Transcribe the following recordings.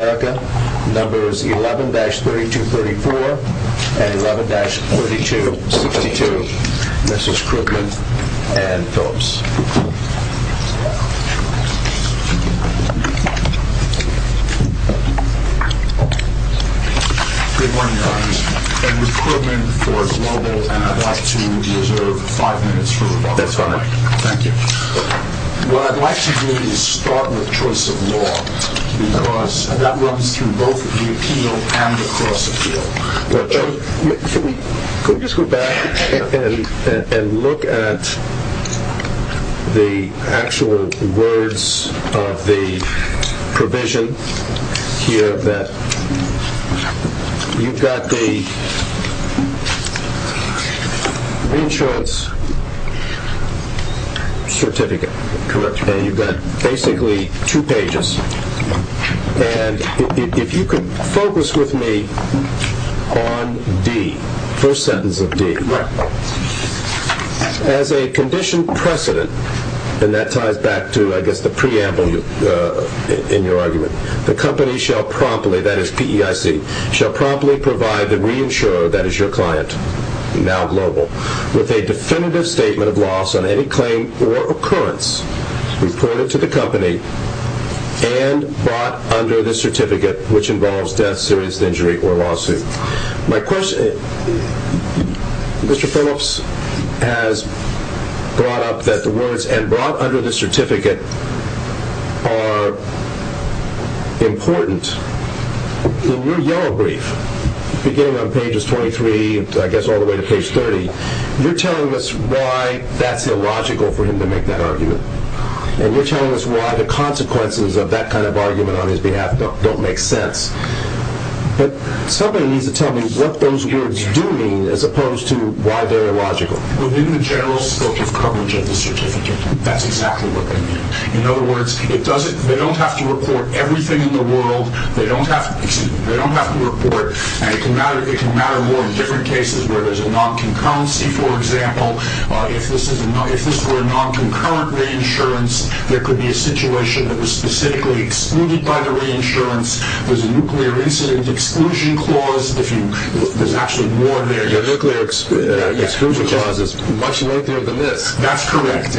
of America, numbers 11-3234 and 11-3262. This is Krugman and Phillips. Good morning, Your Honor. I'm with Krugman for Global, and I'd like to reserve five minutes for rebuttal. That's fine. Thank you. What I'd like to do is start with choice of law, because that runs through both the appeal and the cross-appeal. Could we just go back and look at the actual words of the provision here that you've got the reinsurance certificate, and you've got basically two pages, and if you could focus with me on D, the first sentence of D. As a conditioned precedent, and that ties back to, I guess, the preamble in your argument, the company shall promptly, that is P-E-I-C, shall promptly provide the reinsurer, that is your client, now Global, with a definitive statement of loss on any claim or occurrence reported to the company and brought under the certificate, which involves death, serious injury, or lawsuit. Mr. Phillips has brought up that the words, and brought under the certificate, are important. In your yellow brief, beginning on pages 23, I guess all the way to page 30, you're telling us why that's illogical for him to make that argument, and you're telling us why the consequences of that kind of argument on his behalf don't make sense. But somebody needs to tell me what those words do mean as opposed to why they're illogical. Within the general scope of coverage of the certificate, that's exactly what they mean. In other words, they don't have to report everything in the world. They don't have to report, and it can matter more in different cases where there's a non-concurrency, for example. If this were a non-concurrent reinsurance, there could be a situation that was specifically excluded by the reinsurance. There's a nuclear incident exclusion clause. There's actually more there. Your nuclear exclusion clause is much later than this. That's correct.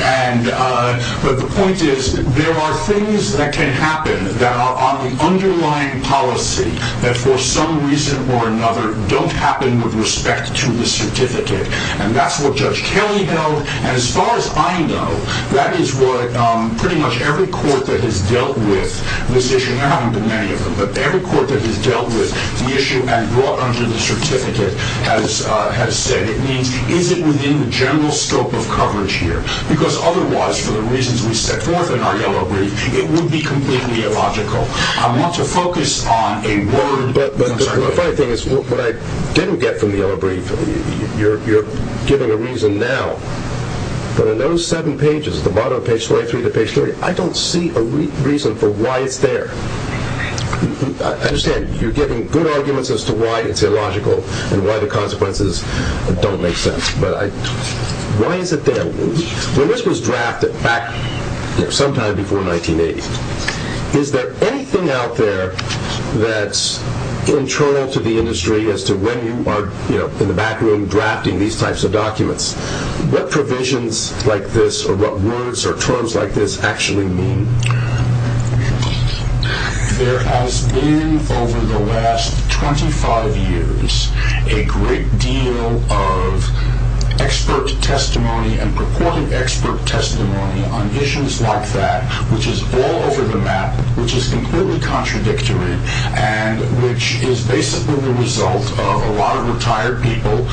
But the point is there are things that can happen that are on the underlying policy that for some reason or another don't happen with respect to the certificate. And that's what Judge Kelly held. And as far as I know, that is what pretty much every court that has dealt with this issue, and there haven't been many of them, but every court that has dealt with the issue and brought under the certificate has said. It means is it within the general scope of coverage here? Because otherwise, for the reasons we set forth in our yellow brief, it would be completely illogical. I want to focus on a word. But the funny thing is what I didn't get from the yellow brief, you're giving a reason now. But in those seven pages, at the bottom of page 23 to page 30, I don't see a reason for why it's there. I understand you're giving good arguments as to why it's illogical and why the consequences don't make sense. But why is it there? When this was drafted sometime before 1980, is there anything out there that's internal to the industry as to when you are in the back room drafting these types of documents? What provisions like this or what words or terms like this actually mean? There has been, over the last 25 years, a great deal of expert testimony and purported expert testimony on issues like that, which is all over the map, which is completely contradictory, and which is basically the result of a lot of retired people,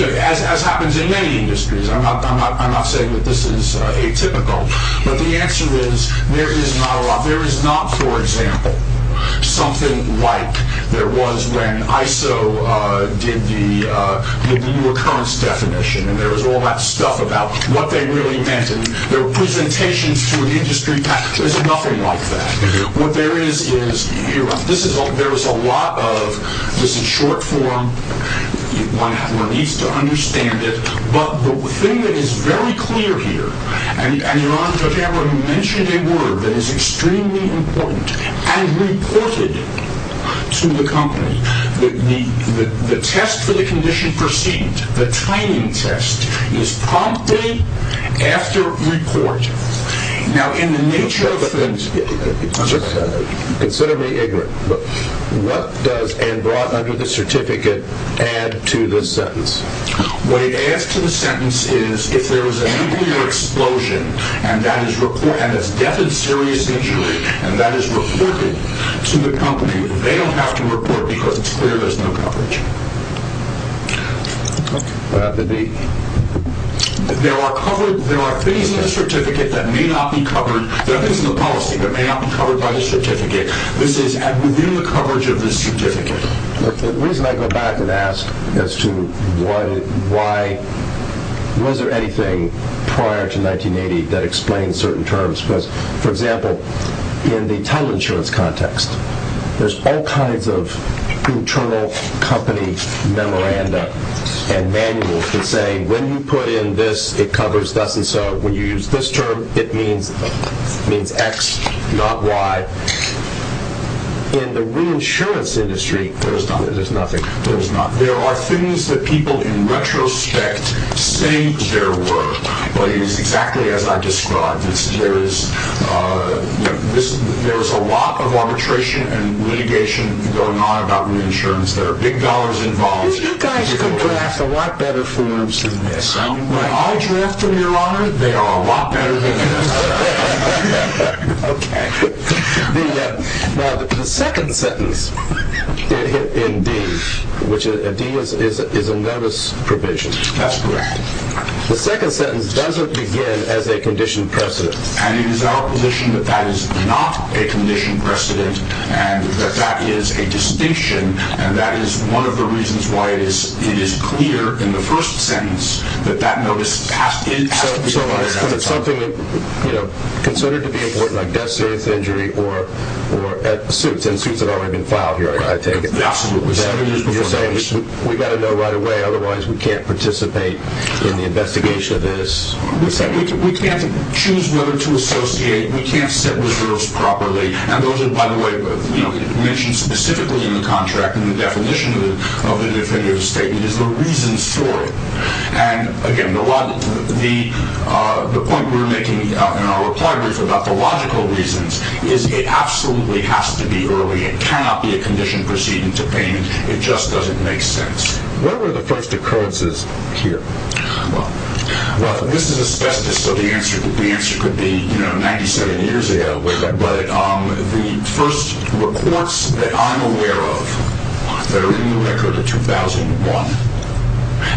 as happens in many industries. I'm not saying that this is atypical, but the answer is there is not, for example, something like there was when ISO did the new occurrence definition and there was all that stuff about what they really meant. There were presentations to an industry. There's nothing like that. What there is, is there is a lot of this in short form. One needs to understand it. But the thing that is very clear here, and Your Honor, Judge Emmer mentioned a word that is extremely important and reported to the company, the test for the condition perceived, the timing test, is promptly after report. Consider me ignorant. What does, and brought under the certificate, add to this sentence? What it adds to the sentence is, if there was an nuclear explosion and there's death and serious injury, and that is reported to the company, they don't have to report because it's clear there's no coverage. There are things in the certificate that may not be covered. There are things in the policy that may not be covered by the certificate. This is within the coverage of the certificate. The reason I go back and ask as to why, was there anything prior to 1980 that explains certain terms, because, for example, in the title insurance context, there's all kinds of internal company memoranda and manuals that say, when you put in this, it covers thus and so. When you use this term, it means X, not Y. In the reinsurance industry, there's nothing. There are things that people, in retrospect, say there were, but it is exactly as I described. There is a lot of arbitration and litigation going on about reinsurance. There are big dollars involved. You guys could draft a lot better forms than this. When I draft them, Your Honor, they are a lot better than this. Okay. Now, the second sentence in D, which a D is a notice provision. That's correct. The second sentence doesn't begin as a conditioned precedent. And it is our position that that is not a conditioned precedent and that that is a distinction, and that is one of the reasons why it is clear in the first sentence that that notice has to be provided at the time. So it's something considered to be important, like death, serious injury, or suits, and suits have already been filed here, I take it. Absolutely. We've got to know right away, otherwise we can't participate in the investigation of this. We can't choose whether to associate. We can't set reserves properly. And those are, by the way, mentioned specifically in the contract and the definition of the definitive statement is the reasons for it. And, again, the point we're making in our reply brief about the logical reasons is it absolutely has to be early. It cannot be a conditioned precedent to payment. It just doesn't make sense. What were the first occurrences here? Well, this is a specific, so the answer could be 97 years ago, but the first reports that I'm aware of that are in the record are 2001,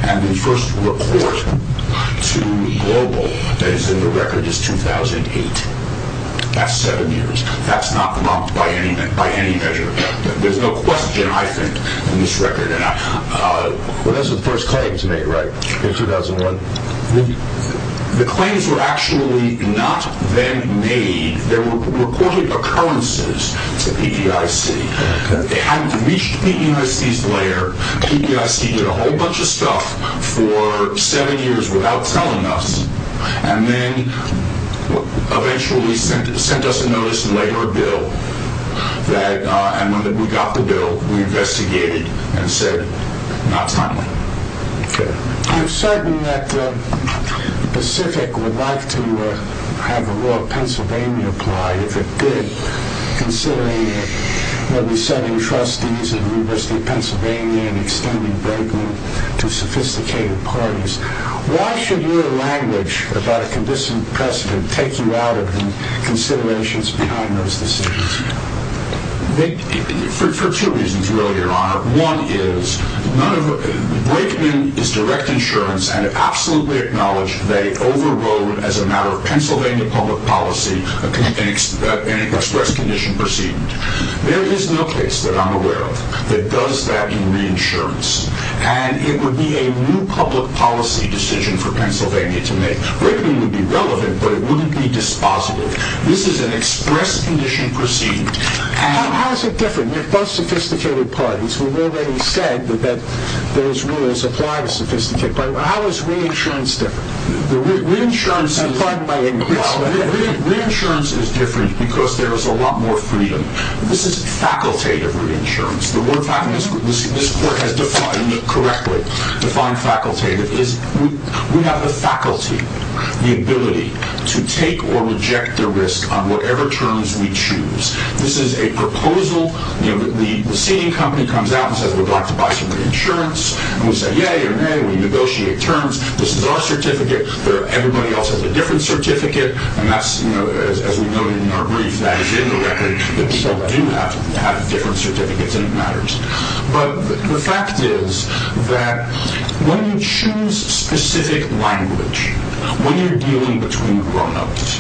and the first report to global that is in the record is 2008. That's seven years. That's not lumped by any measure. There's no question, I think, in this record. Well, that's the first claims made, right, in 2001? The claims were actually not then made. They were reported occurrences to PPIC. They hadn't reached the USCIS layer. PPIC did a whole bunch of stuff for seven years without telling us and then eventually sent us a notice and later a bill, and when we got the bill, we investigated and said not timely. I'm certain that Pacific would like to have the law of Pennsylvania applied if it did, considering what we said in trustees at the University of Pennsylvania and extending break-in to sophisticated parties. Why should your language about a condescending precedent take you out of the considerations behind those decisions? For two reasons, really, Your Honor. One is break-in is direct insurance, and I absolutely acknowledge they overrode, as a matter of Pennsylvania public policy, an express condition proceeding. There is no case that I'm aware of that does that in reinsurance, and it would be a new public policy decision for Pennsylvania to make. Break-in would be relevant, but it wouldn't be dispositive. This is an express condition proceeding. How is it different? We're both sophisticated parties. We've already said that those rules apply to sophisticated parties. How is reinsurance different? Reinsurance is different because there is a lot more freedom. This is facultative reinsurance. The word facultative, this court has defined correctly. Defined facultative is we have the faculty, the ability to take or reject the risk on whatever terms we choose. This is a proposal. The senior company comes out and says, we'd like to buy some reinsurance, and we say, yay or nay. We negotiate terms. This is our certificate. Everybody else has a different certificate, and that's, as we noted in our brief, that is indirectly that people do have different certificates, and it matters. But the fact is that when you choose specific language, when you're dealing between grownups,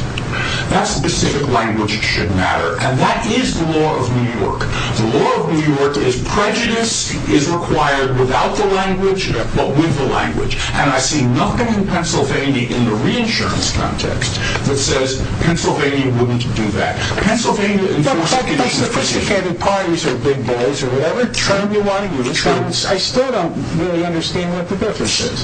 that specific language should matter, and that is the law of New York. The law of New York is prejudice is required without the language, but with the language. And I see nothing in Pennsylvania in the reinsurance context that says Pennsylvania wouldn't do that. But sophisticated parties are big boys, or whatever term you want to use. I still don't really understand what the difference is.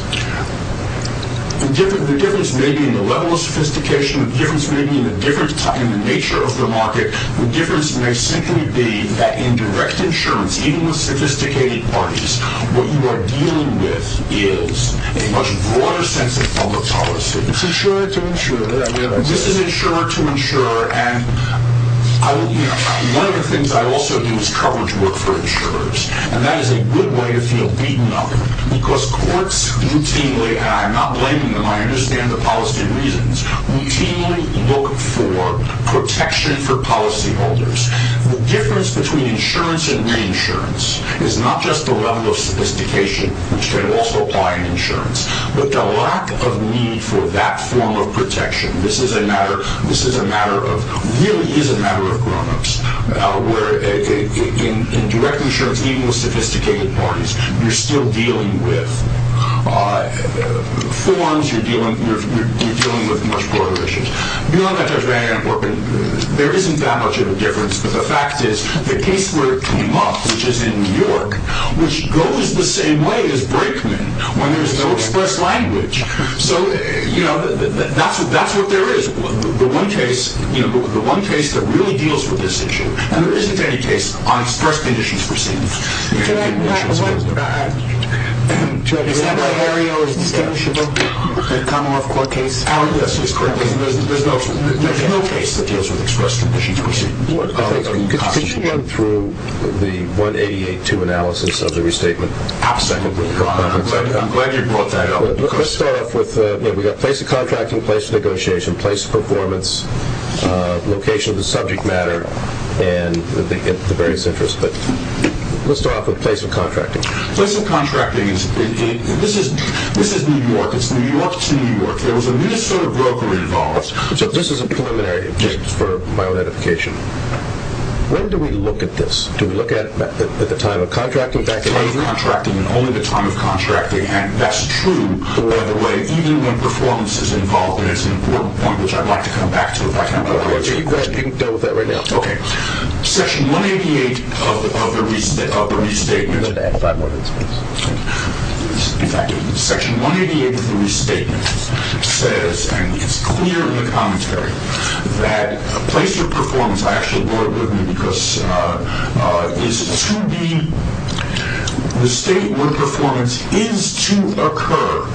The difference may be in the level of sophistication. The difference may be in the nature of the market. The difference may simply be that in direct insurance, even with sophisticated parties, what you are dealing with is a much broader sense of public policy. It's insurer to insurer. This is insurer to insurer, and one of the things I also do is coverage work for insurers, and that is a good way to feel beaten up, because courts routinely, and I'm not blaming them, I understand the policy reasons, routinely look for protection for policyholders. The difference between insurance and reinsurance is not just the level of sophistication, which can also apply in insurance, but the lack of need for that form of protection. This really is a matter of grown-ups, where in direct insurance, even with sophisticated parties, you're still dealing with forms, you're dealing with much broader issues. Beyond that, there isn't that much of a difference, but the fact is, the case where it came up, which is in New York, which goes the same way as Brakeman, when there's no express language. So, you know, that's what there is. The one case that really deals with this issue, and there isn't any case on express conditions proceedings. Is that why Hario is distinguishable? The Commonwealth Court case? Yes, that's correct. There's no case that deals with express conditions proceedings. Could you go through the 188-2 analysis of the restatement? I'm glad you brought that up. Let's start off with, you know, we've got place of contracting, place of negotiation, place of performance, location of the subject matter, and the various interests. But let's start off with place of contracting. Place of contracting is, this is New York. It's New York to New York. There was a Minnesota broker involved. This is a preliminary, just for my own edification. When do we look at this? Do we look at it at the time of contracting? The time of contracting and only the time of contracting. And that's true, by the way, even when performance is involved. And it's an important point, which I'd like to come back to, if I can. You can go with that right now. Okay. Section 188 of the restatement, in fact, Section 188 of the restatement says, and it's clear in the commentary, that place of performance, I actually brought it with me, is to be the state where performance is to occur.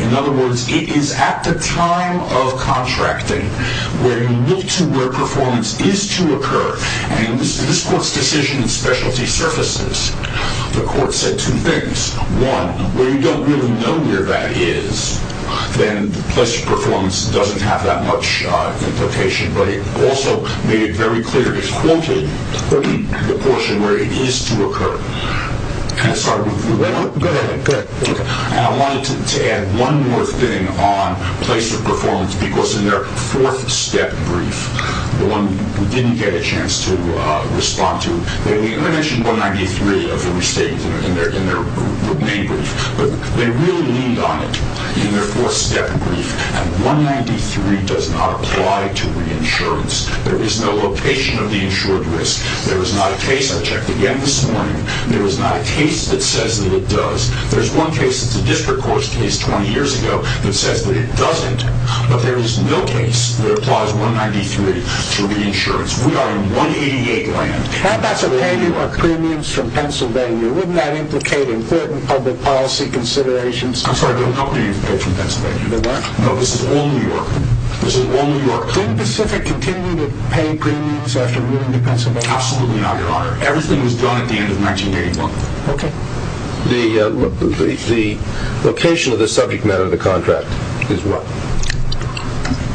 In other words, it is at the time of contracting where you look to where performance is to occur. And in this court's decision in specialty surfaces, the court said two things. One, where you don't really know where that is, then place of performance doesn't have that much implication. But it also made it very clear, it quoted the portion where it is to occur. And I wanted to add one more thing on place of performance, because in their fourth step brief, the one we didn't get a chance to respond to, they mentioned 193 of the restatement in their main brief, but they really leaned on it in their fourth step brief. And 193 does not apply to reinsurance. There is no location of the insured risk. There is not a case, I checked again this morning, there is not a case that says that it does. There's one case, it's a district court's case 20 years ago, that says that it doesn't, but there is no case that applies 193 to reinsurance. We are in 188 land. Now that's a payment of premiums from Pennsylvania. Wouldn't that implicate important public policy considerations? I'm sorry, but nobody paid from Pennsylvania. No, this is all New York. Can Pacific continue to pay premiums after moving to Pennsylvania? Absolutely not, Your Honor. Everything was done at the end of 1981. Okay. The location of the subject matter of the contract is what?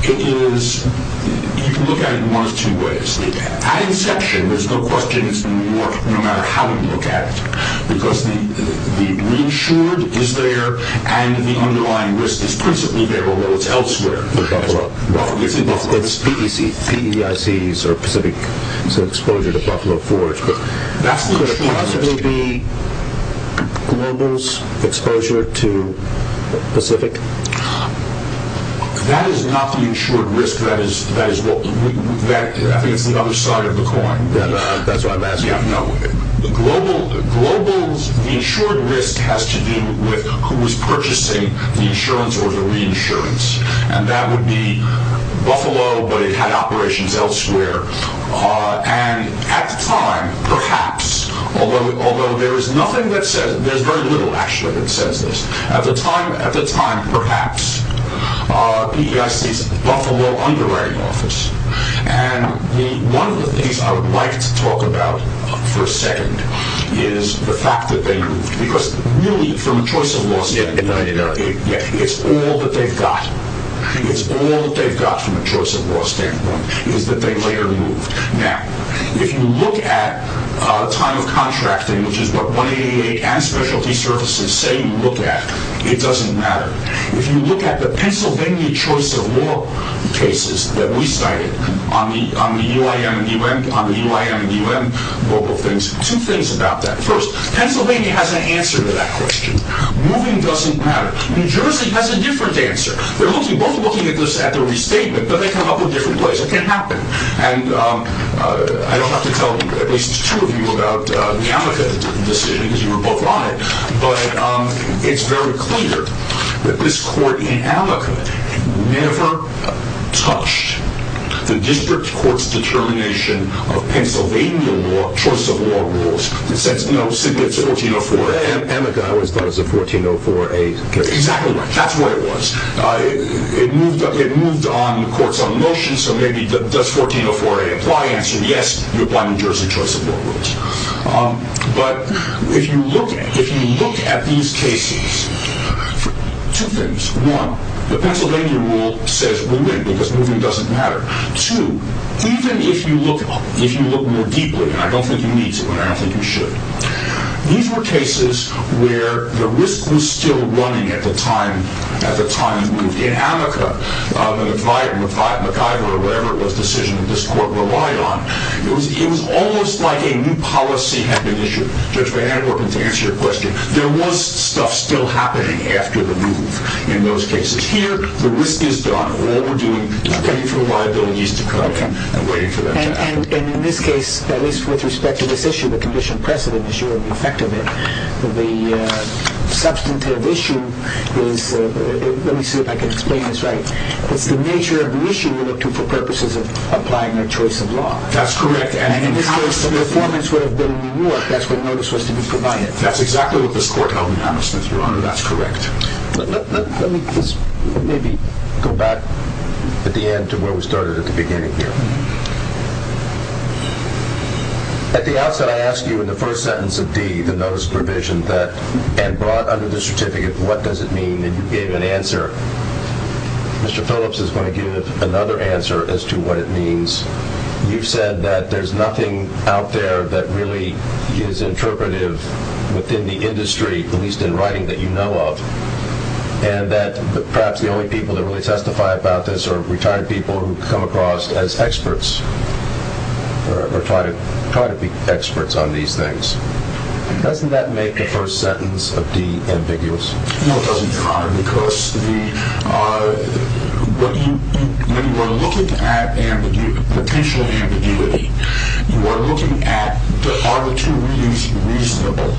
It is, you can look at it in one of two ways. At inception, there's no questions in New York, no matter how you look at it, because the reinsured is there and the underlying risk is principally there, although it's elsewhere. It's PEICs or Pacific Exposure to Buffalo Forge. Could it possibly be Global's exposure to Pacific? That is not the insured risk. That is the other side of the coin. That's what I'm asking. Global's insured risk has to do with who was purchasing the insurance or the reinsurance, and that would be Buffalo, but it had operations elsewhere. And at the time, perhaps, although there's very little actually that says this, at the time, perhaps, PEIC's Buffalo underwriting office. And one of the things I would like to talk about for a second is the fact that they moved. Because really, from a choice of law standpoint, it's all that they've got. It's all that they've got from a choice of law standpoint is that they later moved. Now, if you look at time of contracting, which is what 188 and specialty services say you look at, it doesn't matter. If you look at the Pennsylvania choice of law cases that we cited on the UIM and UM global things, two things about that. First, Pennsylvania has an answer to that question. Moving doesn't matter. New Jersey has a different answer. They're both looking at the restatement, but they come up with different ways. It can happen. And I don't have to tell at least two of you about the Amica decision, because you were both on it, but it's very clear that this court in Amica never touched the district court's determination of Pennsylvania law, choice of law rules. It said, no, it's 1404A. Amica always thought it was a 1404A case. Exactly right. That's what it was. It moved on the court's own motion, so maybe does 1404A apply? Answer, yes. You apply New Jersey choice of law rules. But if you look at these cases, two things. One, the Pennsylvania rule says we win, because moving doesn't matter. Two, even if you look more deeply, and I don't think you need to, but I don't think you should, these were cases where the risk was still running at the time it moved. In Amica, McIver, or whatever it was, decision that this court relied on, it was almost like a new policy had been issued. Judge Van Anderwerpen, to answer your question, there was stuff still happening after the move in those cases. Here, the risk is gone. All we're doing is waiting for the liabilities to come in and waiting for them to happen. And in this case, at least with respect to this issue, the condition precedent is your effect of it. The substantive issue is, let me see if I can explain this right, it's the nature of the issue you look to for purposes of applying your choice of law. That's correct. And in this case, the performance would have been reward. That's what notice was to be provided. That's exactly what this court held in Thomas Smith, Your Honor. That's correct. Let me just maybe go back at the end to where we started at the beginning here. At the outset, I asked you in the first sentence of D, the notice of provision, and brought under the certificate, what does it mean? And you gave an answer. Mr. Phillips is going to give another answer as to what it means. You said that there's nothing out there that really is interpretive within the industry, at least in writing, that you know of, and that perhaps the only people that really testify about this are retired people who come across as experts or try to be experts on these things. Doesn't that make the first sentence of D ambiguous? No, it doesn't, Your Honor. Because when you are looking at potential ambiguity, you are looking at are the two readings reasonable.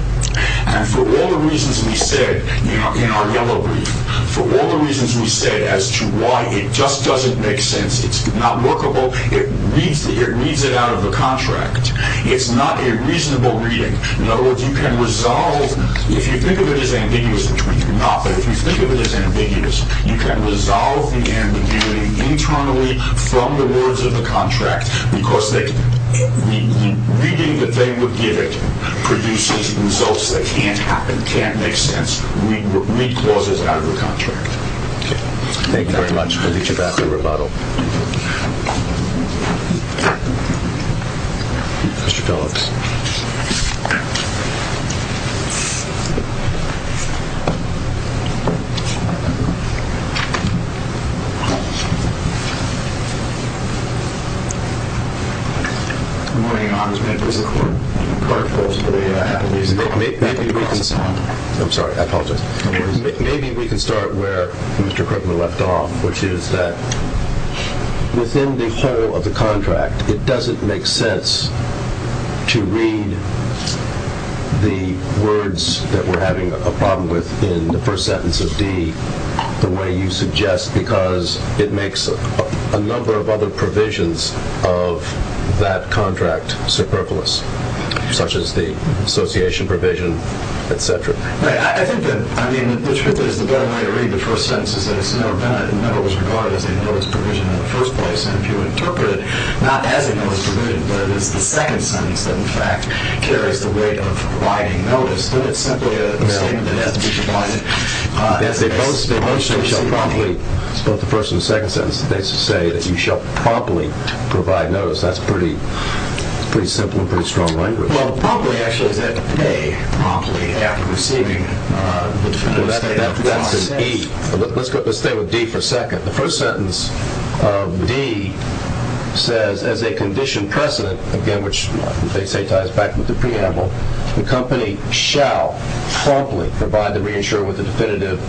And for all the reasons we said in our yellow brief, for all the reasons we said as to why it just doesn't make sense, it's not workable, it reads it out of the contract, it's not a reasonable reading. In other words, you can resolve, if you think of it as ambiguous, which we do not, but if you think of it as ambiguous, you can resolve the ambiguity internally from the words of the contract because the reading that they would give it produces results that can't happen, can't make sense, read clauses out of the contract. Thank you very much. We'll get you back to rebuttal. Thank you. Mr. Phillips. Good morning, Your Honors. May I please have a word? Of course. We have music. Maybe we can start. I'm sorry. I apologize. No worries. Maybe we can start where Mr. Krugman left off, which is that within the whole of the contract, it doesn't make sense to read the words that we're having a problem with in the first sentence of D the way you suggest because it makes a number of other provisions of that contract superfluous, such as the association provision, et cetera. Right. I think that, I mean, the truth is the better way to read the first sentence is that it's never been a number was regarded as a notice provision in the first place, and if you interpret it not as a notice provision, but it is the second sentence that, in fact, carries the weight of providing notice, then it's simply a statement that has to be provided. It's both the first and the second sentence. They say that you shall promptly provide notice. That's pretty simple and pretty strong language. Well, promptly, actually, is that to pay promptly after receiving the definitive statement? That's an E. Let's stay with D for a second. The first sentence of D says, as a condition precedent, again, which they say ties back with the preamble, the company shall promptly provide the reinsurer with a definitive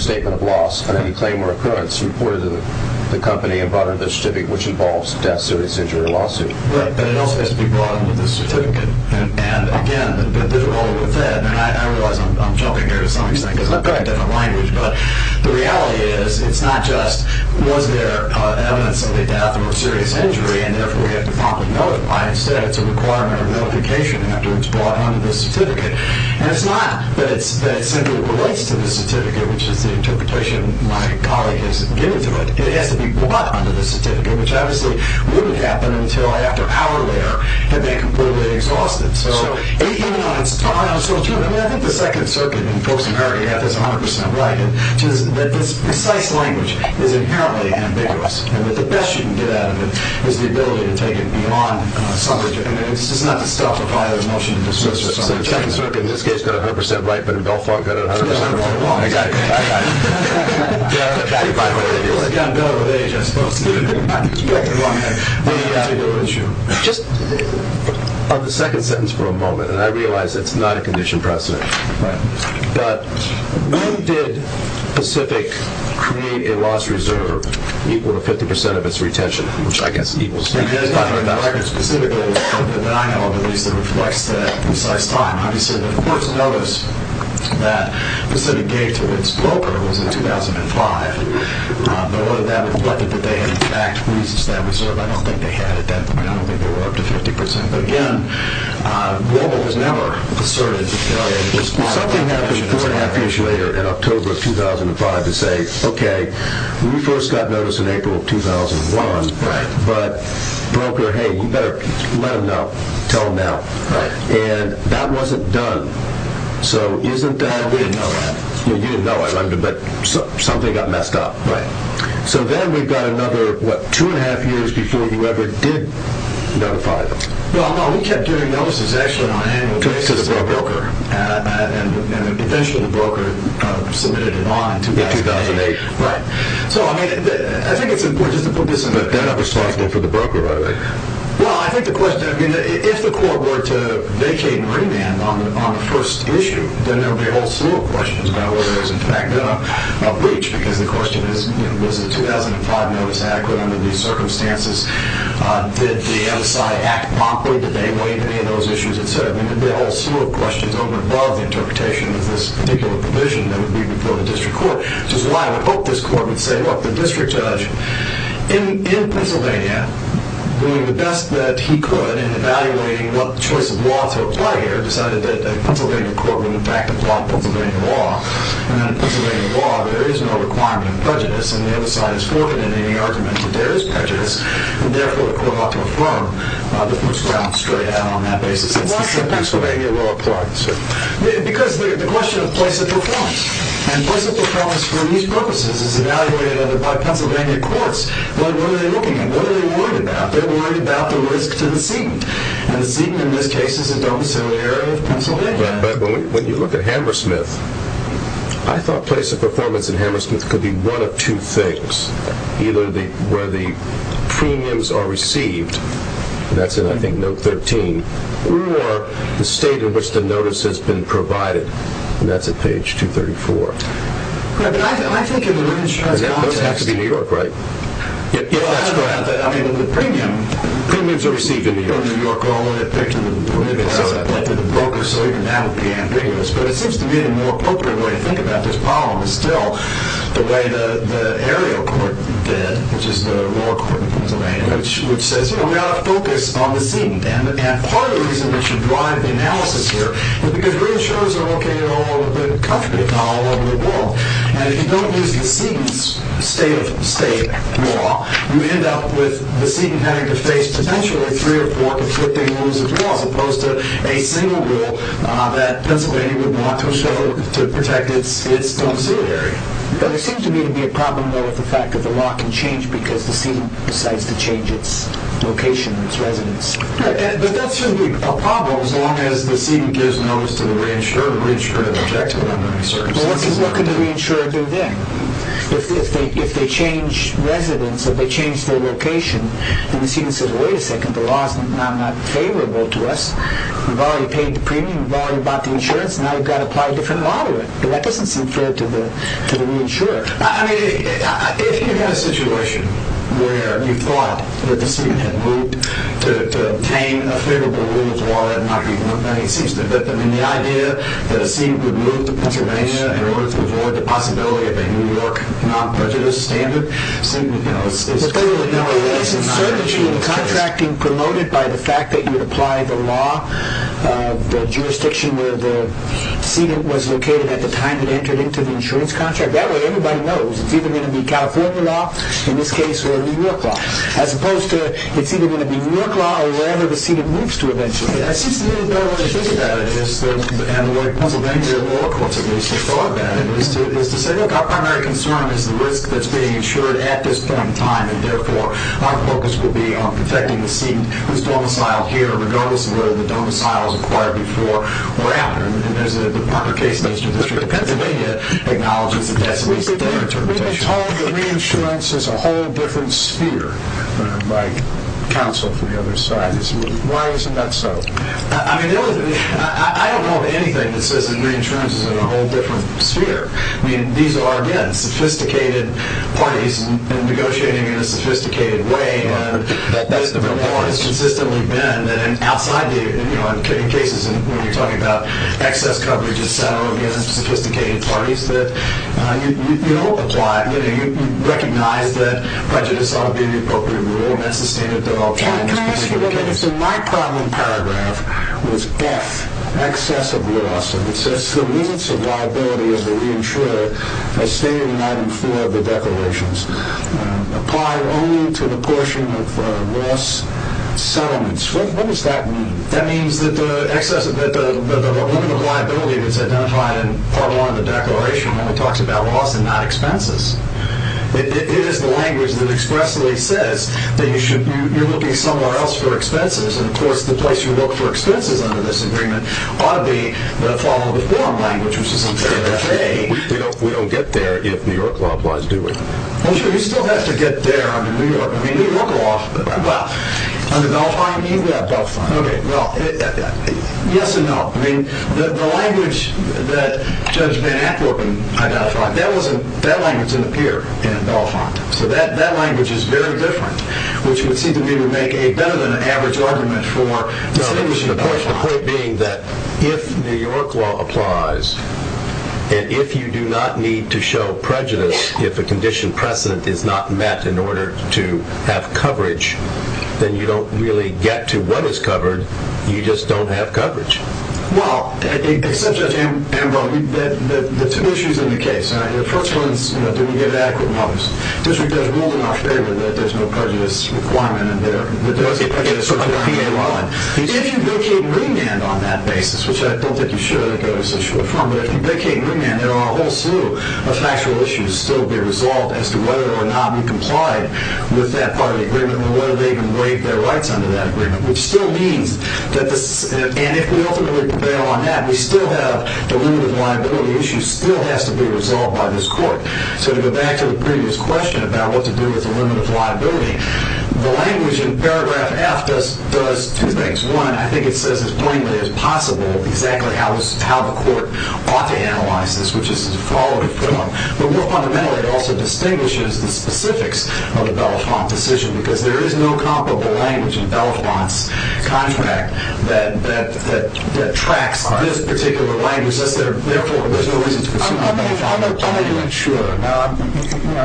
statement of loss on any claim or occurrence reported to the company and brought under the certificate, which involves death, serious injury, or lawsuit. But it also has to be brought under the certificate. And, again, the difficulty with that, and I realize I'm jumping here to some extent because I've got a different language, but the reality is it's not just was there evidence of a death or a serious injury and therefore we have to promptly notify. Instead, it's a requirement of notification after it's brought under the certificate. And it's not that it simply relates to the certificate, which is the interpretation my colleague has given to it. It has to be brought under the certificate, which obviously wouldn't happen until I, after an hour later, had been completely exhausted. So even on its own, I think the Second Circuit, and folks in Paraguay have this 100% right, which is that this precise language is inherently ambiguous and that the best you can get out of it is the ability to take it beyond suffrage. I mean, it's just not to stuffify the motion to dismiss or something. The Second Circuit in this case got it 100% right, but in Belfont got it 100% wrong. Exactly. I got it. I got it. I got it by the way. I'm better with age. I'm supposed to get it right. The issue, just on the second sentence for a moment, and I realize it's not a condition precedent, but when did Pacific create a loss reserve equal to 50% of its retention, which I guess equals 500,000? The record specifically that I know of, at least, that reflects that precise time. Obviously, the first notice that Pacific gave to its broker was in 2005, but whether that reflected that they had, in fact, re-established that reserve, I don't think they had at that point. I don't think they were up to 50%. But, again, Global has never asserted that they had a loss reserve. Something happened four and a half years later in October of 2005 to say, okay, we first got notice in April of 2001, but broker, hey, you better let them know. Tell them now. Right. And that wasn't done. We didn't know that. You didn't know it, but something got messed up. Right. So then we've got another, what, two and a half years before you ever did notify them. Well, no, we kept doing notices, actually, on an annual basis to the broker, and eventually the broker submitted a bond in 2008. Right. So, I mean, I think it's important just to put this in perspective. But they're not responsible for the broker, are they? Well, I think the question, I mean, if the court were to vacate and remand on the first issue, then there would be a whole slew of questions about whether there was, in fact, a breach, because the question is, was the 2005 notice adequate under these circumstances? Did the MSI act promptly? Did they waive any of those issues, et cetera? I mean, there would be a whole slew of questions over and above the interpretation of this particular provision that would be before the district court, which is why I would hope this court would say, look, the district judge in Pennsylvania, doing the best that he could in evaluating what choice of law to apply here, decided that a Pennsylvania court would, in fact, apply Pennsylvania law. And then Pennsylvania law, there is no requirement of prejudice, and the other side is forbidden in any argument that there is prejudice, and therefore the court ought to affirm the first round straight out on that basis. And thus Pennsylvania law applies. Because the question of place of performance, and place of performance for these purposes is evaluated by Pennsylvania courts. What are they looking at? What are they worried about? They're worried about the risk to the seat, and the seat in this case is a domiciliary area of Pennsylvania. But when you look at Hammersmith, I thought place of performance in Hammersmith could be one of two things, either where the premiums are received, and that's in, I think, note 13, or the state in which the notice has been provided, and that's at page 234. Yeah, but I think in the reinsurance context... Those have to be New York, right? Yeah, that's correct. I mean, the premiums are received in New York. The premiums are received in New York, only a picture of the benefits is applied to the broker, so even that would be ambiguous. But it seems to me the more appropriate way to think about this problem is still the way the aerial court did, which is the lower court in Pennsylvania, which says, you know, we ought to focus on the seat. And part of the reason we should drive the analysis here is because reinsurance are located all over the country, not all over the world. And if you don't use the seat as a state of state law, you end up with the seat having to face potentially three or four conflicting rules as well, as opposed to a single rule that Pennsylvania would want to show to protect its own seat area. But it seems to me to be a problem, though, with the fact that the law can change because the seat decides to change its location, its residence. Yeah, but that shouldn't be a problem as long as the seat gives notice to the reinsurer to re-insure and protect it under any circumstances. Well, what can the reinsurer do then? If they change residence, if they change their location, and the seat says, wait a second, the law is not favorable to us, we've already paid the premium, we've already bought the insurance, now we've got to apply a different law to it. Well, that doesn't seem fair to the reinsurer. I mean, I think you've got a situation where you thought that the seat had moved to obtain a favorable rule as well. I mean, the idea that a seat would move to Pennsylvania in order to avoid the possibility of a New York non-budgeted standard is clearly not the case. It's certainly true of the contracting promoted by the fact that you would apply the law, the jurisdiction where the seat was located at the time it entered into the insurance contract. That way everybody knows it's either going to be California law, in this case, or New York law, as opposed to it's either going to be New York law or whatever the seat it moves to eventually. It seems to me the way I think about it, and the way Pennsylvania law courts have at least thought about it, is to say, look, our primary concern is the risk that's being insured at this point in time, and therefore, our focus will be on protecting the seat whose domiciled here, regardless of whether the domicile was acquired before or after. And there's the Parker case in the Eastern District of Pennsylvania acknowledges that that's a waste of their interpretation. We've been told that reinsurance is a whole different sphere by counsel from the other side. Why isn't that so? I mean, I don't know of anything that says that reinsurance is in a whole different sphere. I mean, these are, again, sophisticated parties negotiating in a sophisticated way, and that is the report. It's consistently been that outside the, you know, in cases when you're talking about excess coverage, sophisticated parties that you don't apply. You recognize that prejudice ought to be the appropriate rule, and that's the standard of development. Can I ask you a question? My problem paragraph was F, excess of loss. It says the limits of liability of the reinsurer as stated in item 4 of the declarations apply only to the portion of loss settlements. What does that mean? That means that the limit of liability that's identified in part 1 of the declaration only talks about loss and not expenses. It is the language that expressly says that you're looking somewhere else for expenses, and, of course, the place you look for expenses under this agreement ought to be the follow-the-form language, which is in paragraph A. We don't get there if New York law applies, do we? Well, sure, you still have to get there under New York law. Well, under Gulfine, do you? Yeah, Gulfine. Okay, well, yes and no. I mean, the language that Judge Van Ackerman identified, that language didn't appear in Gulfine. So that language is very different, which would seem to me to make a better-than-average argument for establishing the point being that if New York law applies and if you do not need to show prejudice if a condition precedent is not met in order to have coverage, then you don't really get to what is covered. You just don't have coverage. Well, Judge Ambrose, there are two issues in the case. The first one is, do we get adequate mothers? Judge Wolden, our favorite, that there's no prejudice requirement in there. If you vacate and remand on that basis, which I don't think you should, but if you vacate and remand, there are a whole slew of factual issues that need to still be resolved as to whether or not we complied with that part of the agreement and whether they can break their rights under that agreement, which still means that this... And if we ultimately prevail on that, we still have the limit of liability issue still has to be resolved by this court. So to go back to the previous question about what to do with the limit of liability, the language in paragraph F does two things. One, I think it says as plainly as possible exactly how the court ought to analyze this, which is to follow the film. But more fundamentally, it also distinguishes the specifics of the Belafonte decision because there is no comparable language in Belafonte's contract that tracks this particular language. Therefore, there's no reason to assume... I'm a new insurer. Now,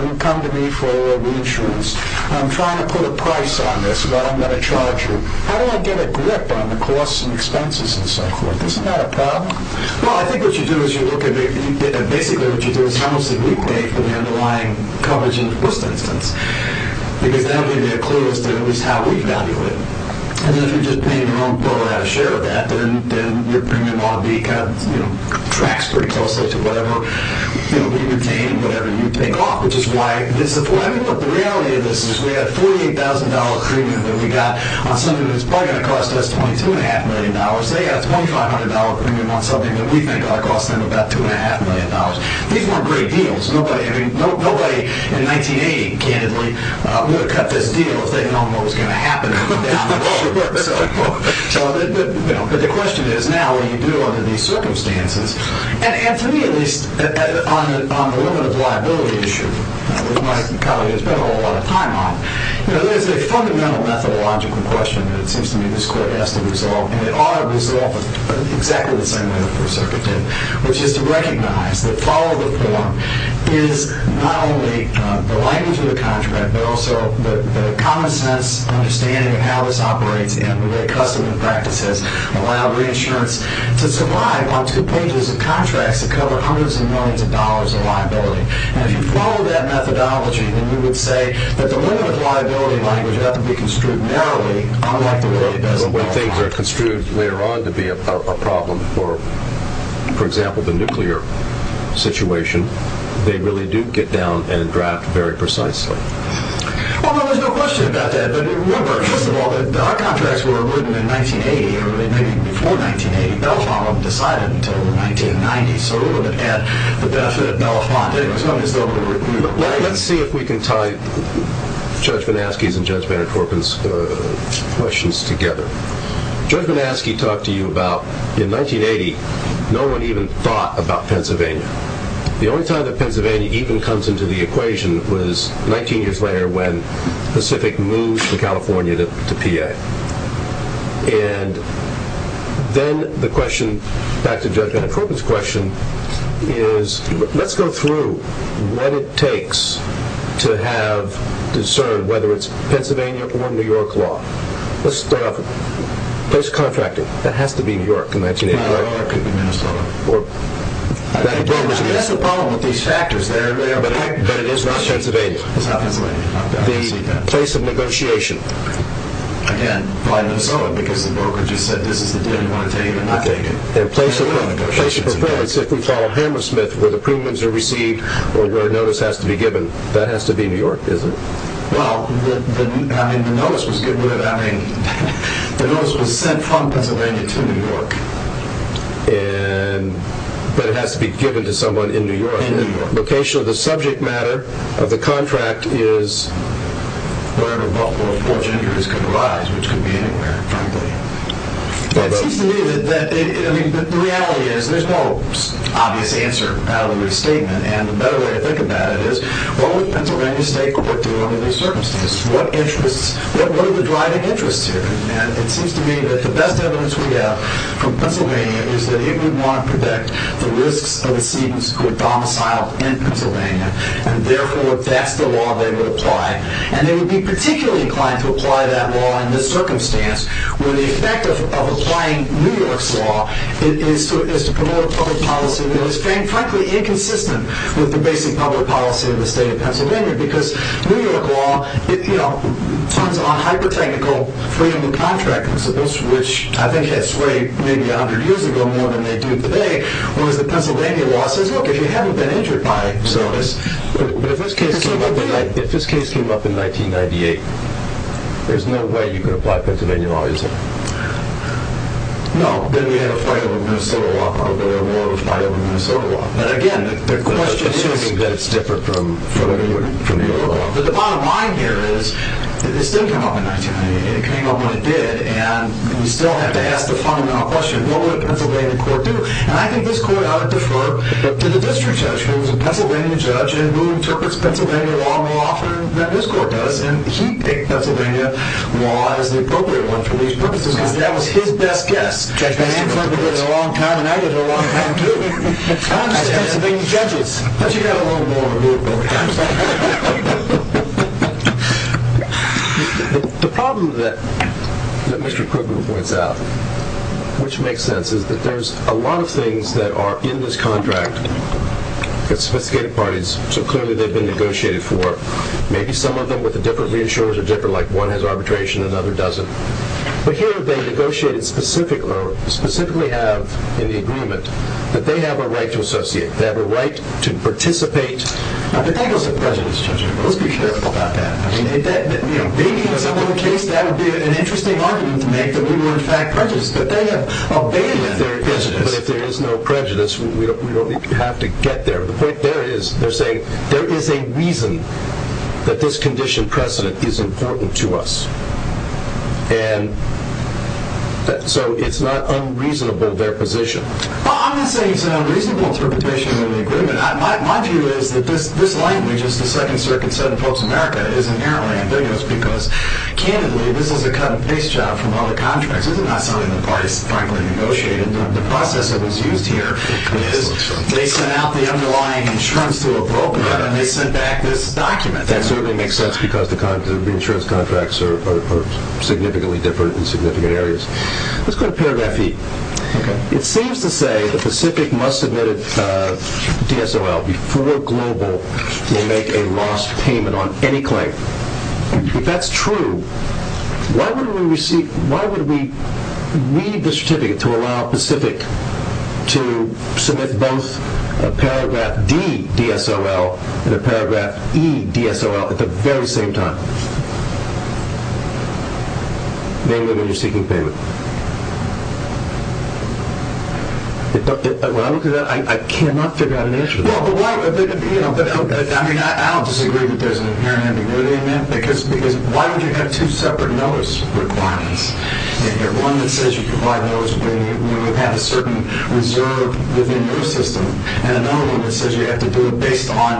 you come to me for reinsurance. I'm trying to put a price on this, but I'm going to charge you. How do I get a grip on the costs and expenses and so forth? Isn't that a problem? Well, I think what you do is you look at... Basically, what you do is... for the underlying coverage in the first instance because that will give you a clue as to at least how we value it. And then if you're just paying your own bill without a share of that, then your premium ought to be kind of, you know, tracks pretty closely to whatever we retain and whatever you take off, which is why... I mean, look, the reality of this is we have a $48,000 premium that we got on something that's probably going to cost us $22.5 million. They got a $2,500 premium on something that we think ought to cost them about $2.5 million. These weren't great deals. Nobody in 1980, candidly, would have cut this deal if they'd known what was going to happen if it came down the road. But the question is, now, what do you do under these circumstances? And to me, at least, on the limit of liability issue, which my colleague has spent a whole lot of time on, there's a fundamental methodological question that it seems to me this court has to resolve, and it ought to resolve it exactly the same way the First Circuit did, which is to recognize that follow-the-form is not only the language of the contract, but also the common-sense understanding of how this operates and the way custom and practice has allowed reinsurance to survive on two pages of contracts that cover hundreds of millions of dollars of liability. And if you follow that methodology, then we would say that the limit of liability language ought to be construed narrowly, but when things are construed later on to be a problem for, for example, the nuclear situation, they really do get down and draft very precisely. Well, there's no question about that, but remember, first of all, that our contracts were written in 1980, or maybe even before 1980. Belafonte decided until the 1990s, so we wouldn't have had the benefit of Belafonte. Let's see if we can tie Judge Manaske's and Judge Van Der Korpen's questions together. Judge Manaske talked to you about, in 1980, no one even thought about Pennsylvania. The only time that Pennsylvania even comes into the equation was 19 years later when Pacific moved from California to PA. And then the question, back to Judge Van Der Korpen's question, is let's go through what it takes to have discerned whether it's Pennsylvania or New York law. Let's start off with the place of contracting. That has to be New York in that scenario, right? It could be Minnesota. That's the problem with these factors. But it is not Pennsylvania. It's not Pennsylvania. The place of negotiation. Again, by Minnesota, because the broker just said this is the deal you want to take and not take it. The place of performance, if we follow Hammersmith, where the premiums are received or where a notice has to be given, that has to be New York, doesn't it? Well, the notice was sent from Pennsylvania to New York. But it has to be given to someone in New York. In New York. Location of the subject matter of the contract is wherever Baltimore Fortune Injuries could arise, which could be anywhere, frankly. It seems to me that the reality is there's no obvious answer out of the restatement and the better way to think about it is what would Pennsylvania State Court do under these circumstances? What are the driving interests here? And it seems to me that the best evidence we have from Pennsylvania is that it would want to protect the risks of the citizens who are domiciled in Pennsylvania and therefore, if that's the law, they would apply. And they would be particularly inclined to apply that law in this circumstance where the effect of applying New York's law is to promote a public policy that is frankly inconsistent with the basic public policy of the state of Pennsylvania because New York law turns on hyper-technical freedom of contract principles which I think had swayed maybe a hundred years ago more than they do today whereas the Pennsylvania law says, look, if you haven't been injured by this... But if this case came up in 1998, there's no way you could apply Pennsylvania law, is there? No. Then you have a fight over Minnesota law. Probably a war of fight over Minnesota law. But again, the question is... But the bottom line here is this didn't come up in 1990. It came up when it did and we still have to ask the fundamental question, what would a Pennsylvania court do? And I think this court ought to defer to the district judge who is a Pennsylvania judge and who interprets Pennsylvania law more often than this court does and he picked Pennsylvania law as the appropriate one for these purposes because that was his best guess. And Mr. Krugman did it a long time, and I did it a long time too. I understand some of these judges, but you have a little more room over here. The problem that Mr. Krugman points out, which makes sense, is that there's a lot of things that are in this contract that sophisticated parties, so clearly they've been negotiated for. Maybe some of them with the different reinsurers are different, like one has arbitration, another doesn't. But here they negotiated specifically, or specifically have in the agreement, that they have a right to associate, they have a right to participate. But that was a prejudice judgment. Let's be careful about that. Maybe in some other case that would be an interesting argument to make that we were in fact prejudiced, but they have abandoned that prejudice. But if there is no prejudice, we don't have to get there. The point there is, they're saying, there is a reason that this condition precedent is important to us. And so it's not unreasonable, their position. Well, I'm not saying it's an unreasonable interpretation of the agreement. My view is that this language, as the Second Circuit said in Pope's America, is inherently ambiguous, because, candidly, this is a cut-and-paste job from other contracts. This is not something the parties finally negotiated. The process that was used here is, they sent out the underlying insurance to a broker, and they sent back this document. That certainly makes sense, because the insurance contracts are significantly different in significant areas. Let's go to paragraph 8. It seems to say that Pacific must submit a DSOL before Global will make a lost payment on any claim. If that's true, why would we read the certificate to allow Pacific to submit both a paragraph D DSOL and a paragraph E DSOL at the very same time, namely when you're seeking payment? When I look at that, I cannot figure out an answer to that. I mean, I don't disagree that there's an inherent ambiguity in that, because why would you have two separate notice requirements? You have one that says you provide notice when you have a certain reserve within your system, and another one that says you have to do it based on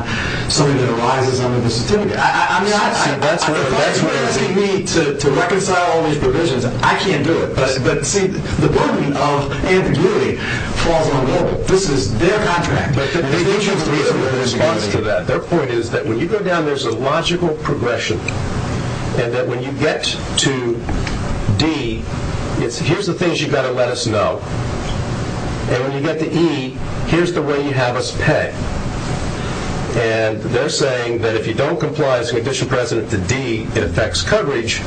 something that arises under the certificate. I mean, you're asking me to reconcile all these provisions. I can't do it. But, see, the burden of ambiguity falls on Global. This is their contract, and they need to have a reasonable response to that. Their point is that when you go down, there's a logical progression, and that when you get to D, it's here's the things you've got to let us know, and when you get to E, here's the way you have us pay. And they're saying that if you don't comply as a condition precedent to D, it affects coverage,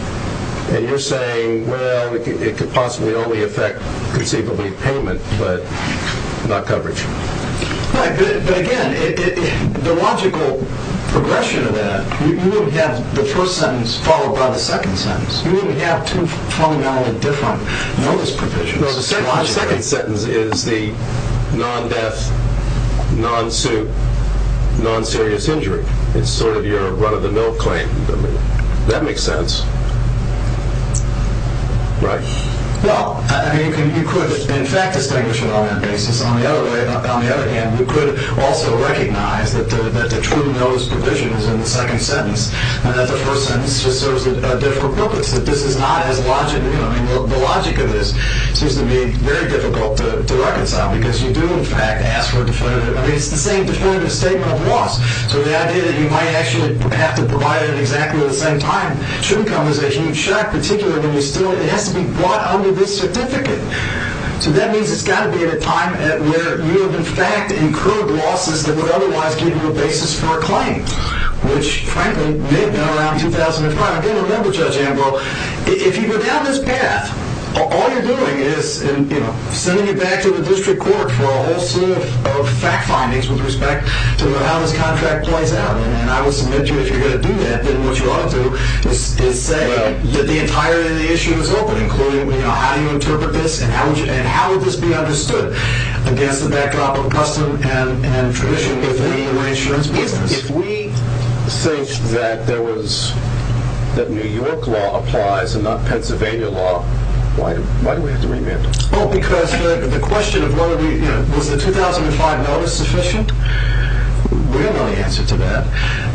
and you're saying, well, it could possibly only affect conceivably payment, but not coverage. But, again, the logical progression of that, you wouldn't have the first sentence followed by the second sentence. You wouldn't have two fundamentally different notice provisions. No, the second sentence is the non-death, non-suit, non-serious injury. It's sort of your run-of-the-mill claim. That makes sense. Right. Well, I mean, you could, in fact, distinguish it on that basis. On the other hand, you could also recognize that the true notice provision is in the second sentence, and that the first sentence just serves a different purpose, that this is not as logical. The logic of this seems to me very difficult to reconcile because you do, in fact, ask for definitive. I mean, it's the same definitive statement of loss. So the idea that you might actually have to provide it exactly at the same time should come as a huge shock, particularly when it has to be brought under this certificate. So that means it's got to be at a time where you have, in fact, incurred losses that would otherwise give you a basis for a claim, which, frankly, may have been around 2005. Again, remember, Judge Ambrose, if you go down this path, all you're doing is, you know, sending it back to the district court for a whole slew of fact findings with respect to how this contract plays out. And I would submit to you, if you're going to do that, then what you ought to do is say that the entirety of the issue is open, including, you know, how do you interpret this and how would this be understood against the backdrop of custom and tradition within the insurance business. If we think that there was... that New York law applies and not Pennsylvania law, why do we have to remand it? Oh, because the question of whether we... you know, was the 2005 notice sufficient? We don't know the answer to that.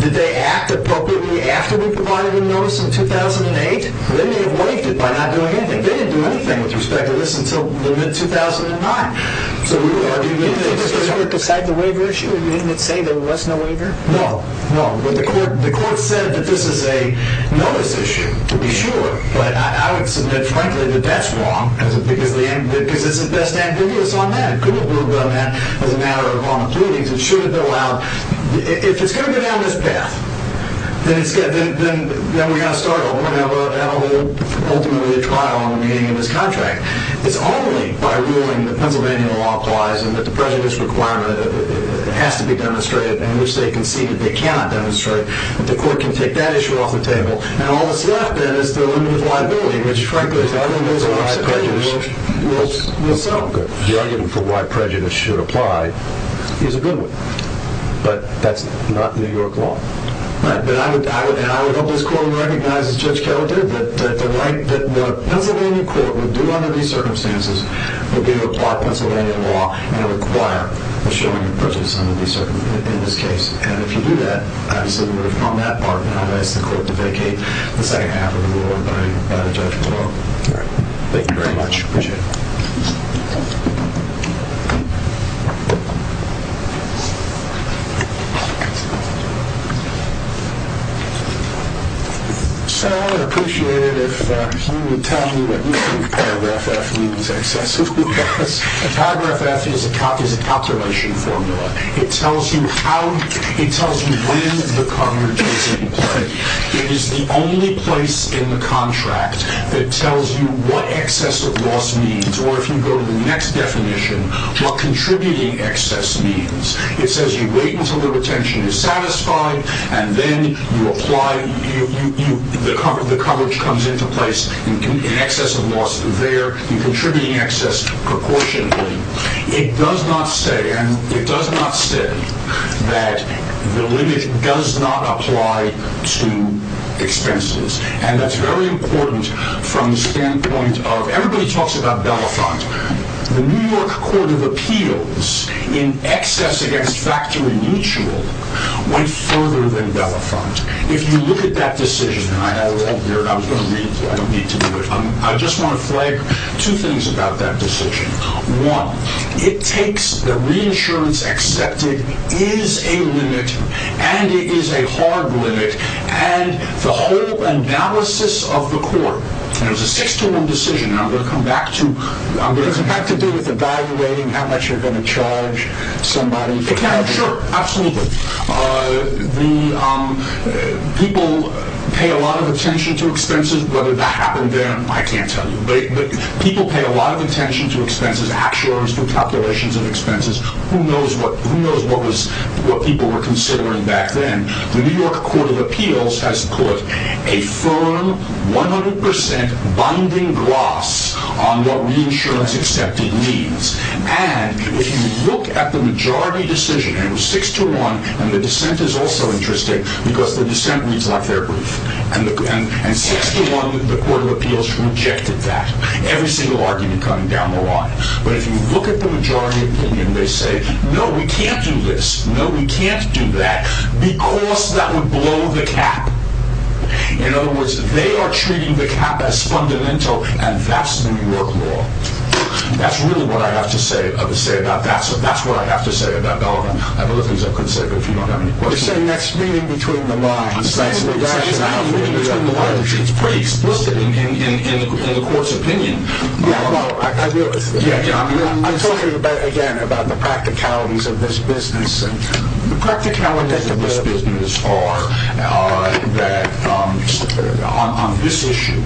Did they act appropriately after we provided a notice in 2008? They may have waived it by not doing anything. They didn't do anything with respect to this until the mid-2009. So we would argue... Did the district court decide the waiver issue and didn't it say there was no waiver? No, no. The court said that this is a notice issue, to be sure, but I would submit, frankly, that that's wrong because it's the best antithesis on that. It couldn't have moved on that as a matter of on the pleadings. It shouldn't have allowed... If it's going to go down this path, then we've got to start over and have ultimately a trial on the meaning of this contract. It's only by ruling that Pennsylvania law applies and that the prejudice requirement has to be demonstrated and which they conceded they cannot demonstrate that the court can take that issue off the table. And all that's left, then, is the limit of liability, which, frankly, is the argument for why prejudice will sell. The argument for why prejudice should apply is a good one, but that's not New York law. Right, and I would hope this court recognizes, Judge Keller did, that the right that the Pennsylvania court would do under these circumstances would be to apply Pennsylvania law and require a showing of prejudice under these circumstances in this case. And if you do that, obviously, we would have found that part and have asked the court to vacate the second half of the ruling by a judgment vote. Thank you very much. Appreciate it. So I would appreciate it if you would tell me what you think paragraph F means excessively Because paragraph F is a calculation formula. It tells you when the coverage is in place. It is the only place in the contract that tells you what excess of loss means. Or if you go to the next definition, what contributing excess means. It says you wait until the retention is satisfied and then you apply. The coverage comes into place in excess of loss there. In contributing excess proportionately. It does not say, and it does not say that the limit does not apply to expenses. And that's very important from the standpoint of everybody talks about Belafonte. The New York Court of Appeals in excess against factory mutual went further than Belafonte. If you look at that decision, and I have it all here and I was going to read it, but I don't need to do it. I just want to flag two things about that decision. One, it takes the reinsurance accepted is a limit and it is a hard limit. And the whole analysis of the court, and it was a 6 to 1 decision, and I'm going to come back to, I'm going to come back to do with evaluating how much you're going to charge somebody. Sure, absolutely. People pay a lot of attention to expenses, whether that happened there. I can't tell you, but people pay a lot of attention to expenses. Actuaries do calculations of expenses. Who knows what people were considering back then. The New York Court of Appeals has put a firm 100% binding gloss on what reinsurance accepted means. And if you look at the majority decision, it was 6 to 1, and the dissent is also interesting because the dissent reads like they're brief. And 6 to 1, the Court of Appeals rejected that. Every single argument coming down the line. But if you look at the majority opinion, they say, no, we can't do this. No, we can't do that because that would blow the cap. In other words, they are treating the cap as fundamental and that's the New York law. That's really what I have to say about that. So that's what I have to say about that. I have other things I couldn't say but if you don't have any questions. We're saying that's meaning between the lines. I'm saying the rationale between the lines is pretty explicit in the Court's opinion. Yeah, well, I realize that. I'm talking again about the practicalities of this business. The practicalities of this business are that on this issue,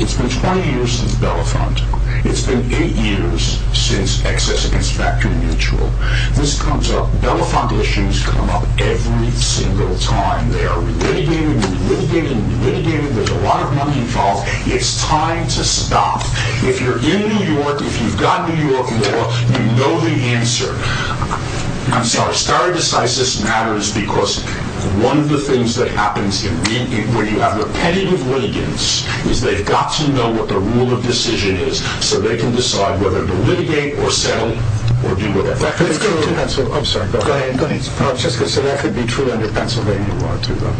it's been 20 years since Bellefonte. It's been 8 years since excess against factory mutual. This comes up, Bellefonte issues come up every single time. They are re-litigating, re-litigating, re-litigating. There's a lot of money involved. It's time to stop. If you're in New York, if you've got New York law, you know the answer. I'm sorry, stare decisis matters because one of the things that happens when you have repetitive litigants is they've got to know what the rule of decision is so they can decide whether to litigate or settle or do whatever. Let's go to Pennsylvania. I'm sorry, go ahead. I was just going to say that could be true under Pennsylvania law, too, though.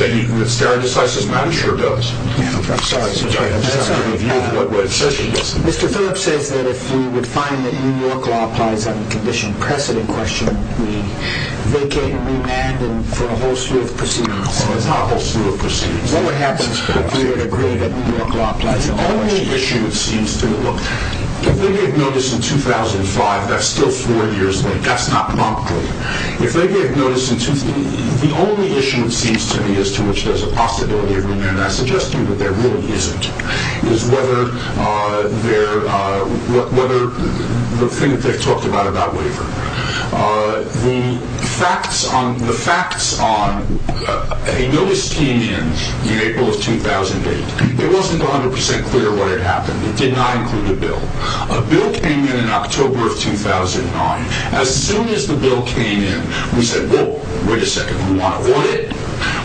That stare decisis matter sure does. I'm sorry. I'm just asking if you have a view of what the rule of decision is. Mr. Phillips says that if we would find that New York law applies on a condition precedent question, we vacate and remand for a whole slew of proceedings. No, it's not a whole slew of proceedings. What would happen if we would agree that New York law applies on the only issue it seems to? Look, if we get notice in 2005, that's still four years late. That's not promptly. If they get notice in 2000, the only issue it seems to be as to which there's a possibility of remand, and I suggest to you that there really isn't, is whether the thing that they've talked about about waiver. The facts on a notice came in in April of 2008. It wasn't 100% clear what had happened. It did not include a bill. A bill came in in October of 2009. As soon as the bill came in, we said, whoa, wait a second. We want to audit it.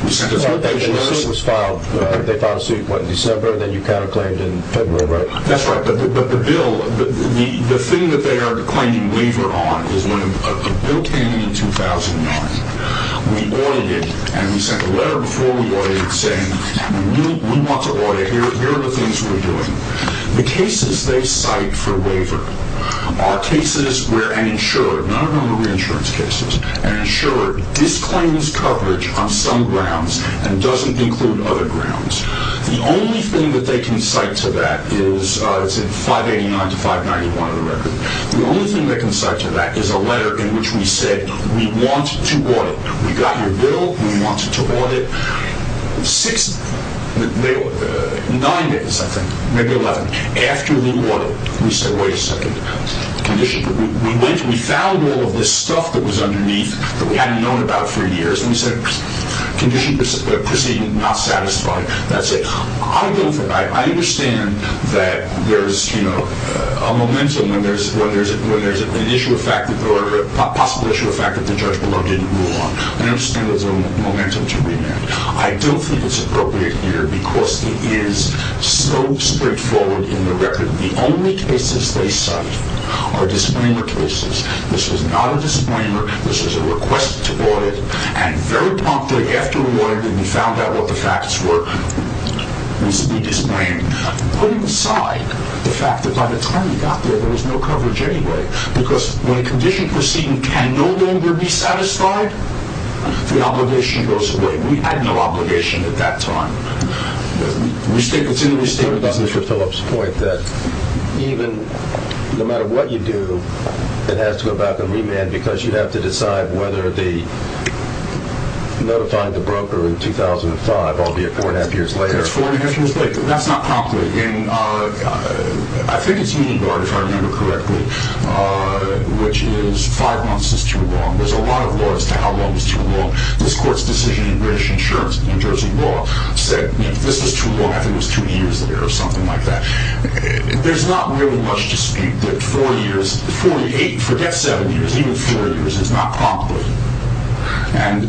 We sent a... The notice was filed, they filed a suit, what, in December, then you kind of claimed in February, right? That's right, but the bill, the thing that they are claiming waiver on is when a bill came in in 2009. We audited it, and we sent a letter before we audited saying we want to audit it. Here are the things we're doing. The cases they cite for waiver are cases where an insurer, none of them are reinsurance cases, an insurer disclaims coverage on some grounds and doesn't include other grounds. The only thing that they can cite to that is, it's in 589 to 591 of the record, the only thing they can cite to that is a letter in which we said we want to audit. We got your bill, we want to audit. Six... Nine days, I think, maybe 11. After we audited, we said, wait a second, condition... We went, we found all of this stuff that was underneath that we hadn't known about for years, and we said, condition proceeding, not satisfied, that's it. I don't... I understand that there's, you know, a momentum when there's an issue of fact or a possible issue of fact that the judge below didn't rule on. I understand there's a momentum to remand. I don't think it's appropriate here because it is so straightforward in the record. The only cases they cite are disclaimer cases. This is not a disclaimer. This is a request to audit. And very promptly after we audited, we found out what the facts were, we disclaimed. Putting aside the fact that by the time we got there, there was no coverage anyway, because when a condition proceeding can no longer be satisfied, the obligation goes away. We had no obligation at that time. The mistake that's in the mistake... I'm going to go back to Mr. Phillips' point that even no matter what you do, it has to go back and remand because you have to decide whether they notified the broker in 2005, albeit 4 1⁄2 years later. It's 4 1⁄2 years later. That's not promptly. And I think it's Union Guard, if I remember correctly, which is five months is too long. There's a lot of laws as to how long is too long. This court's decision in British Insurance, New Jersey Law, said this is too long. I think it was two years later or something like that. There's not really much to speak that four years, 48, forget seven years, even four years is not promptly. And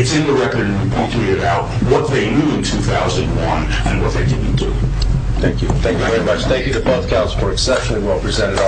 it's in the record and we promptly get out what they knew in 2001 and what they didn't do. Thank you. Thank you very much. Thank you to both counselors for exceptionally well presented argument.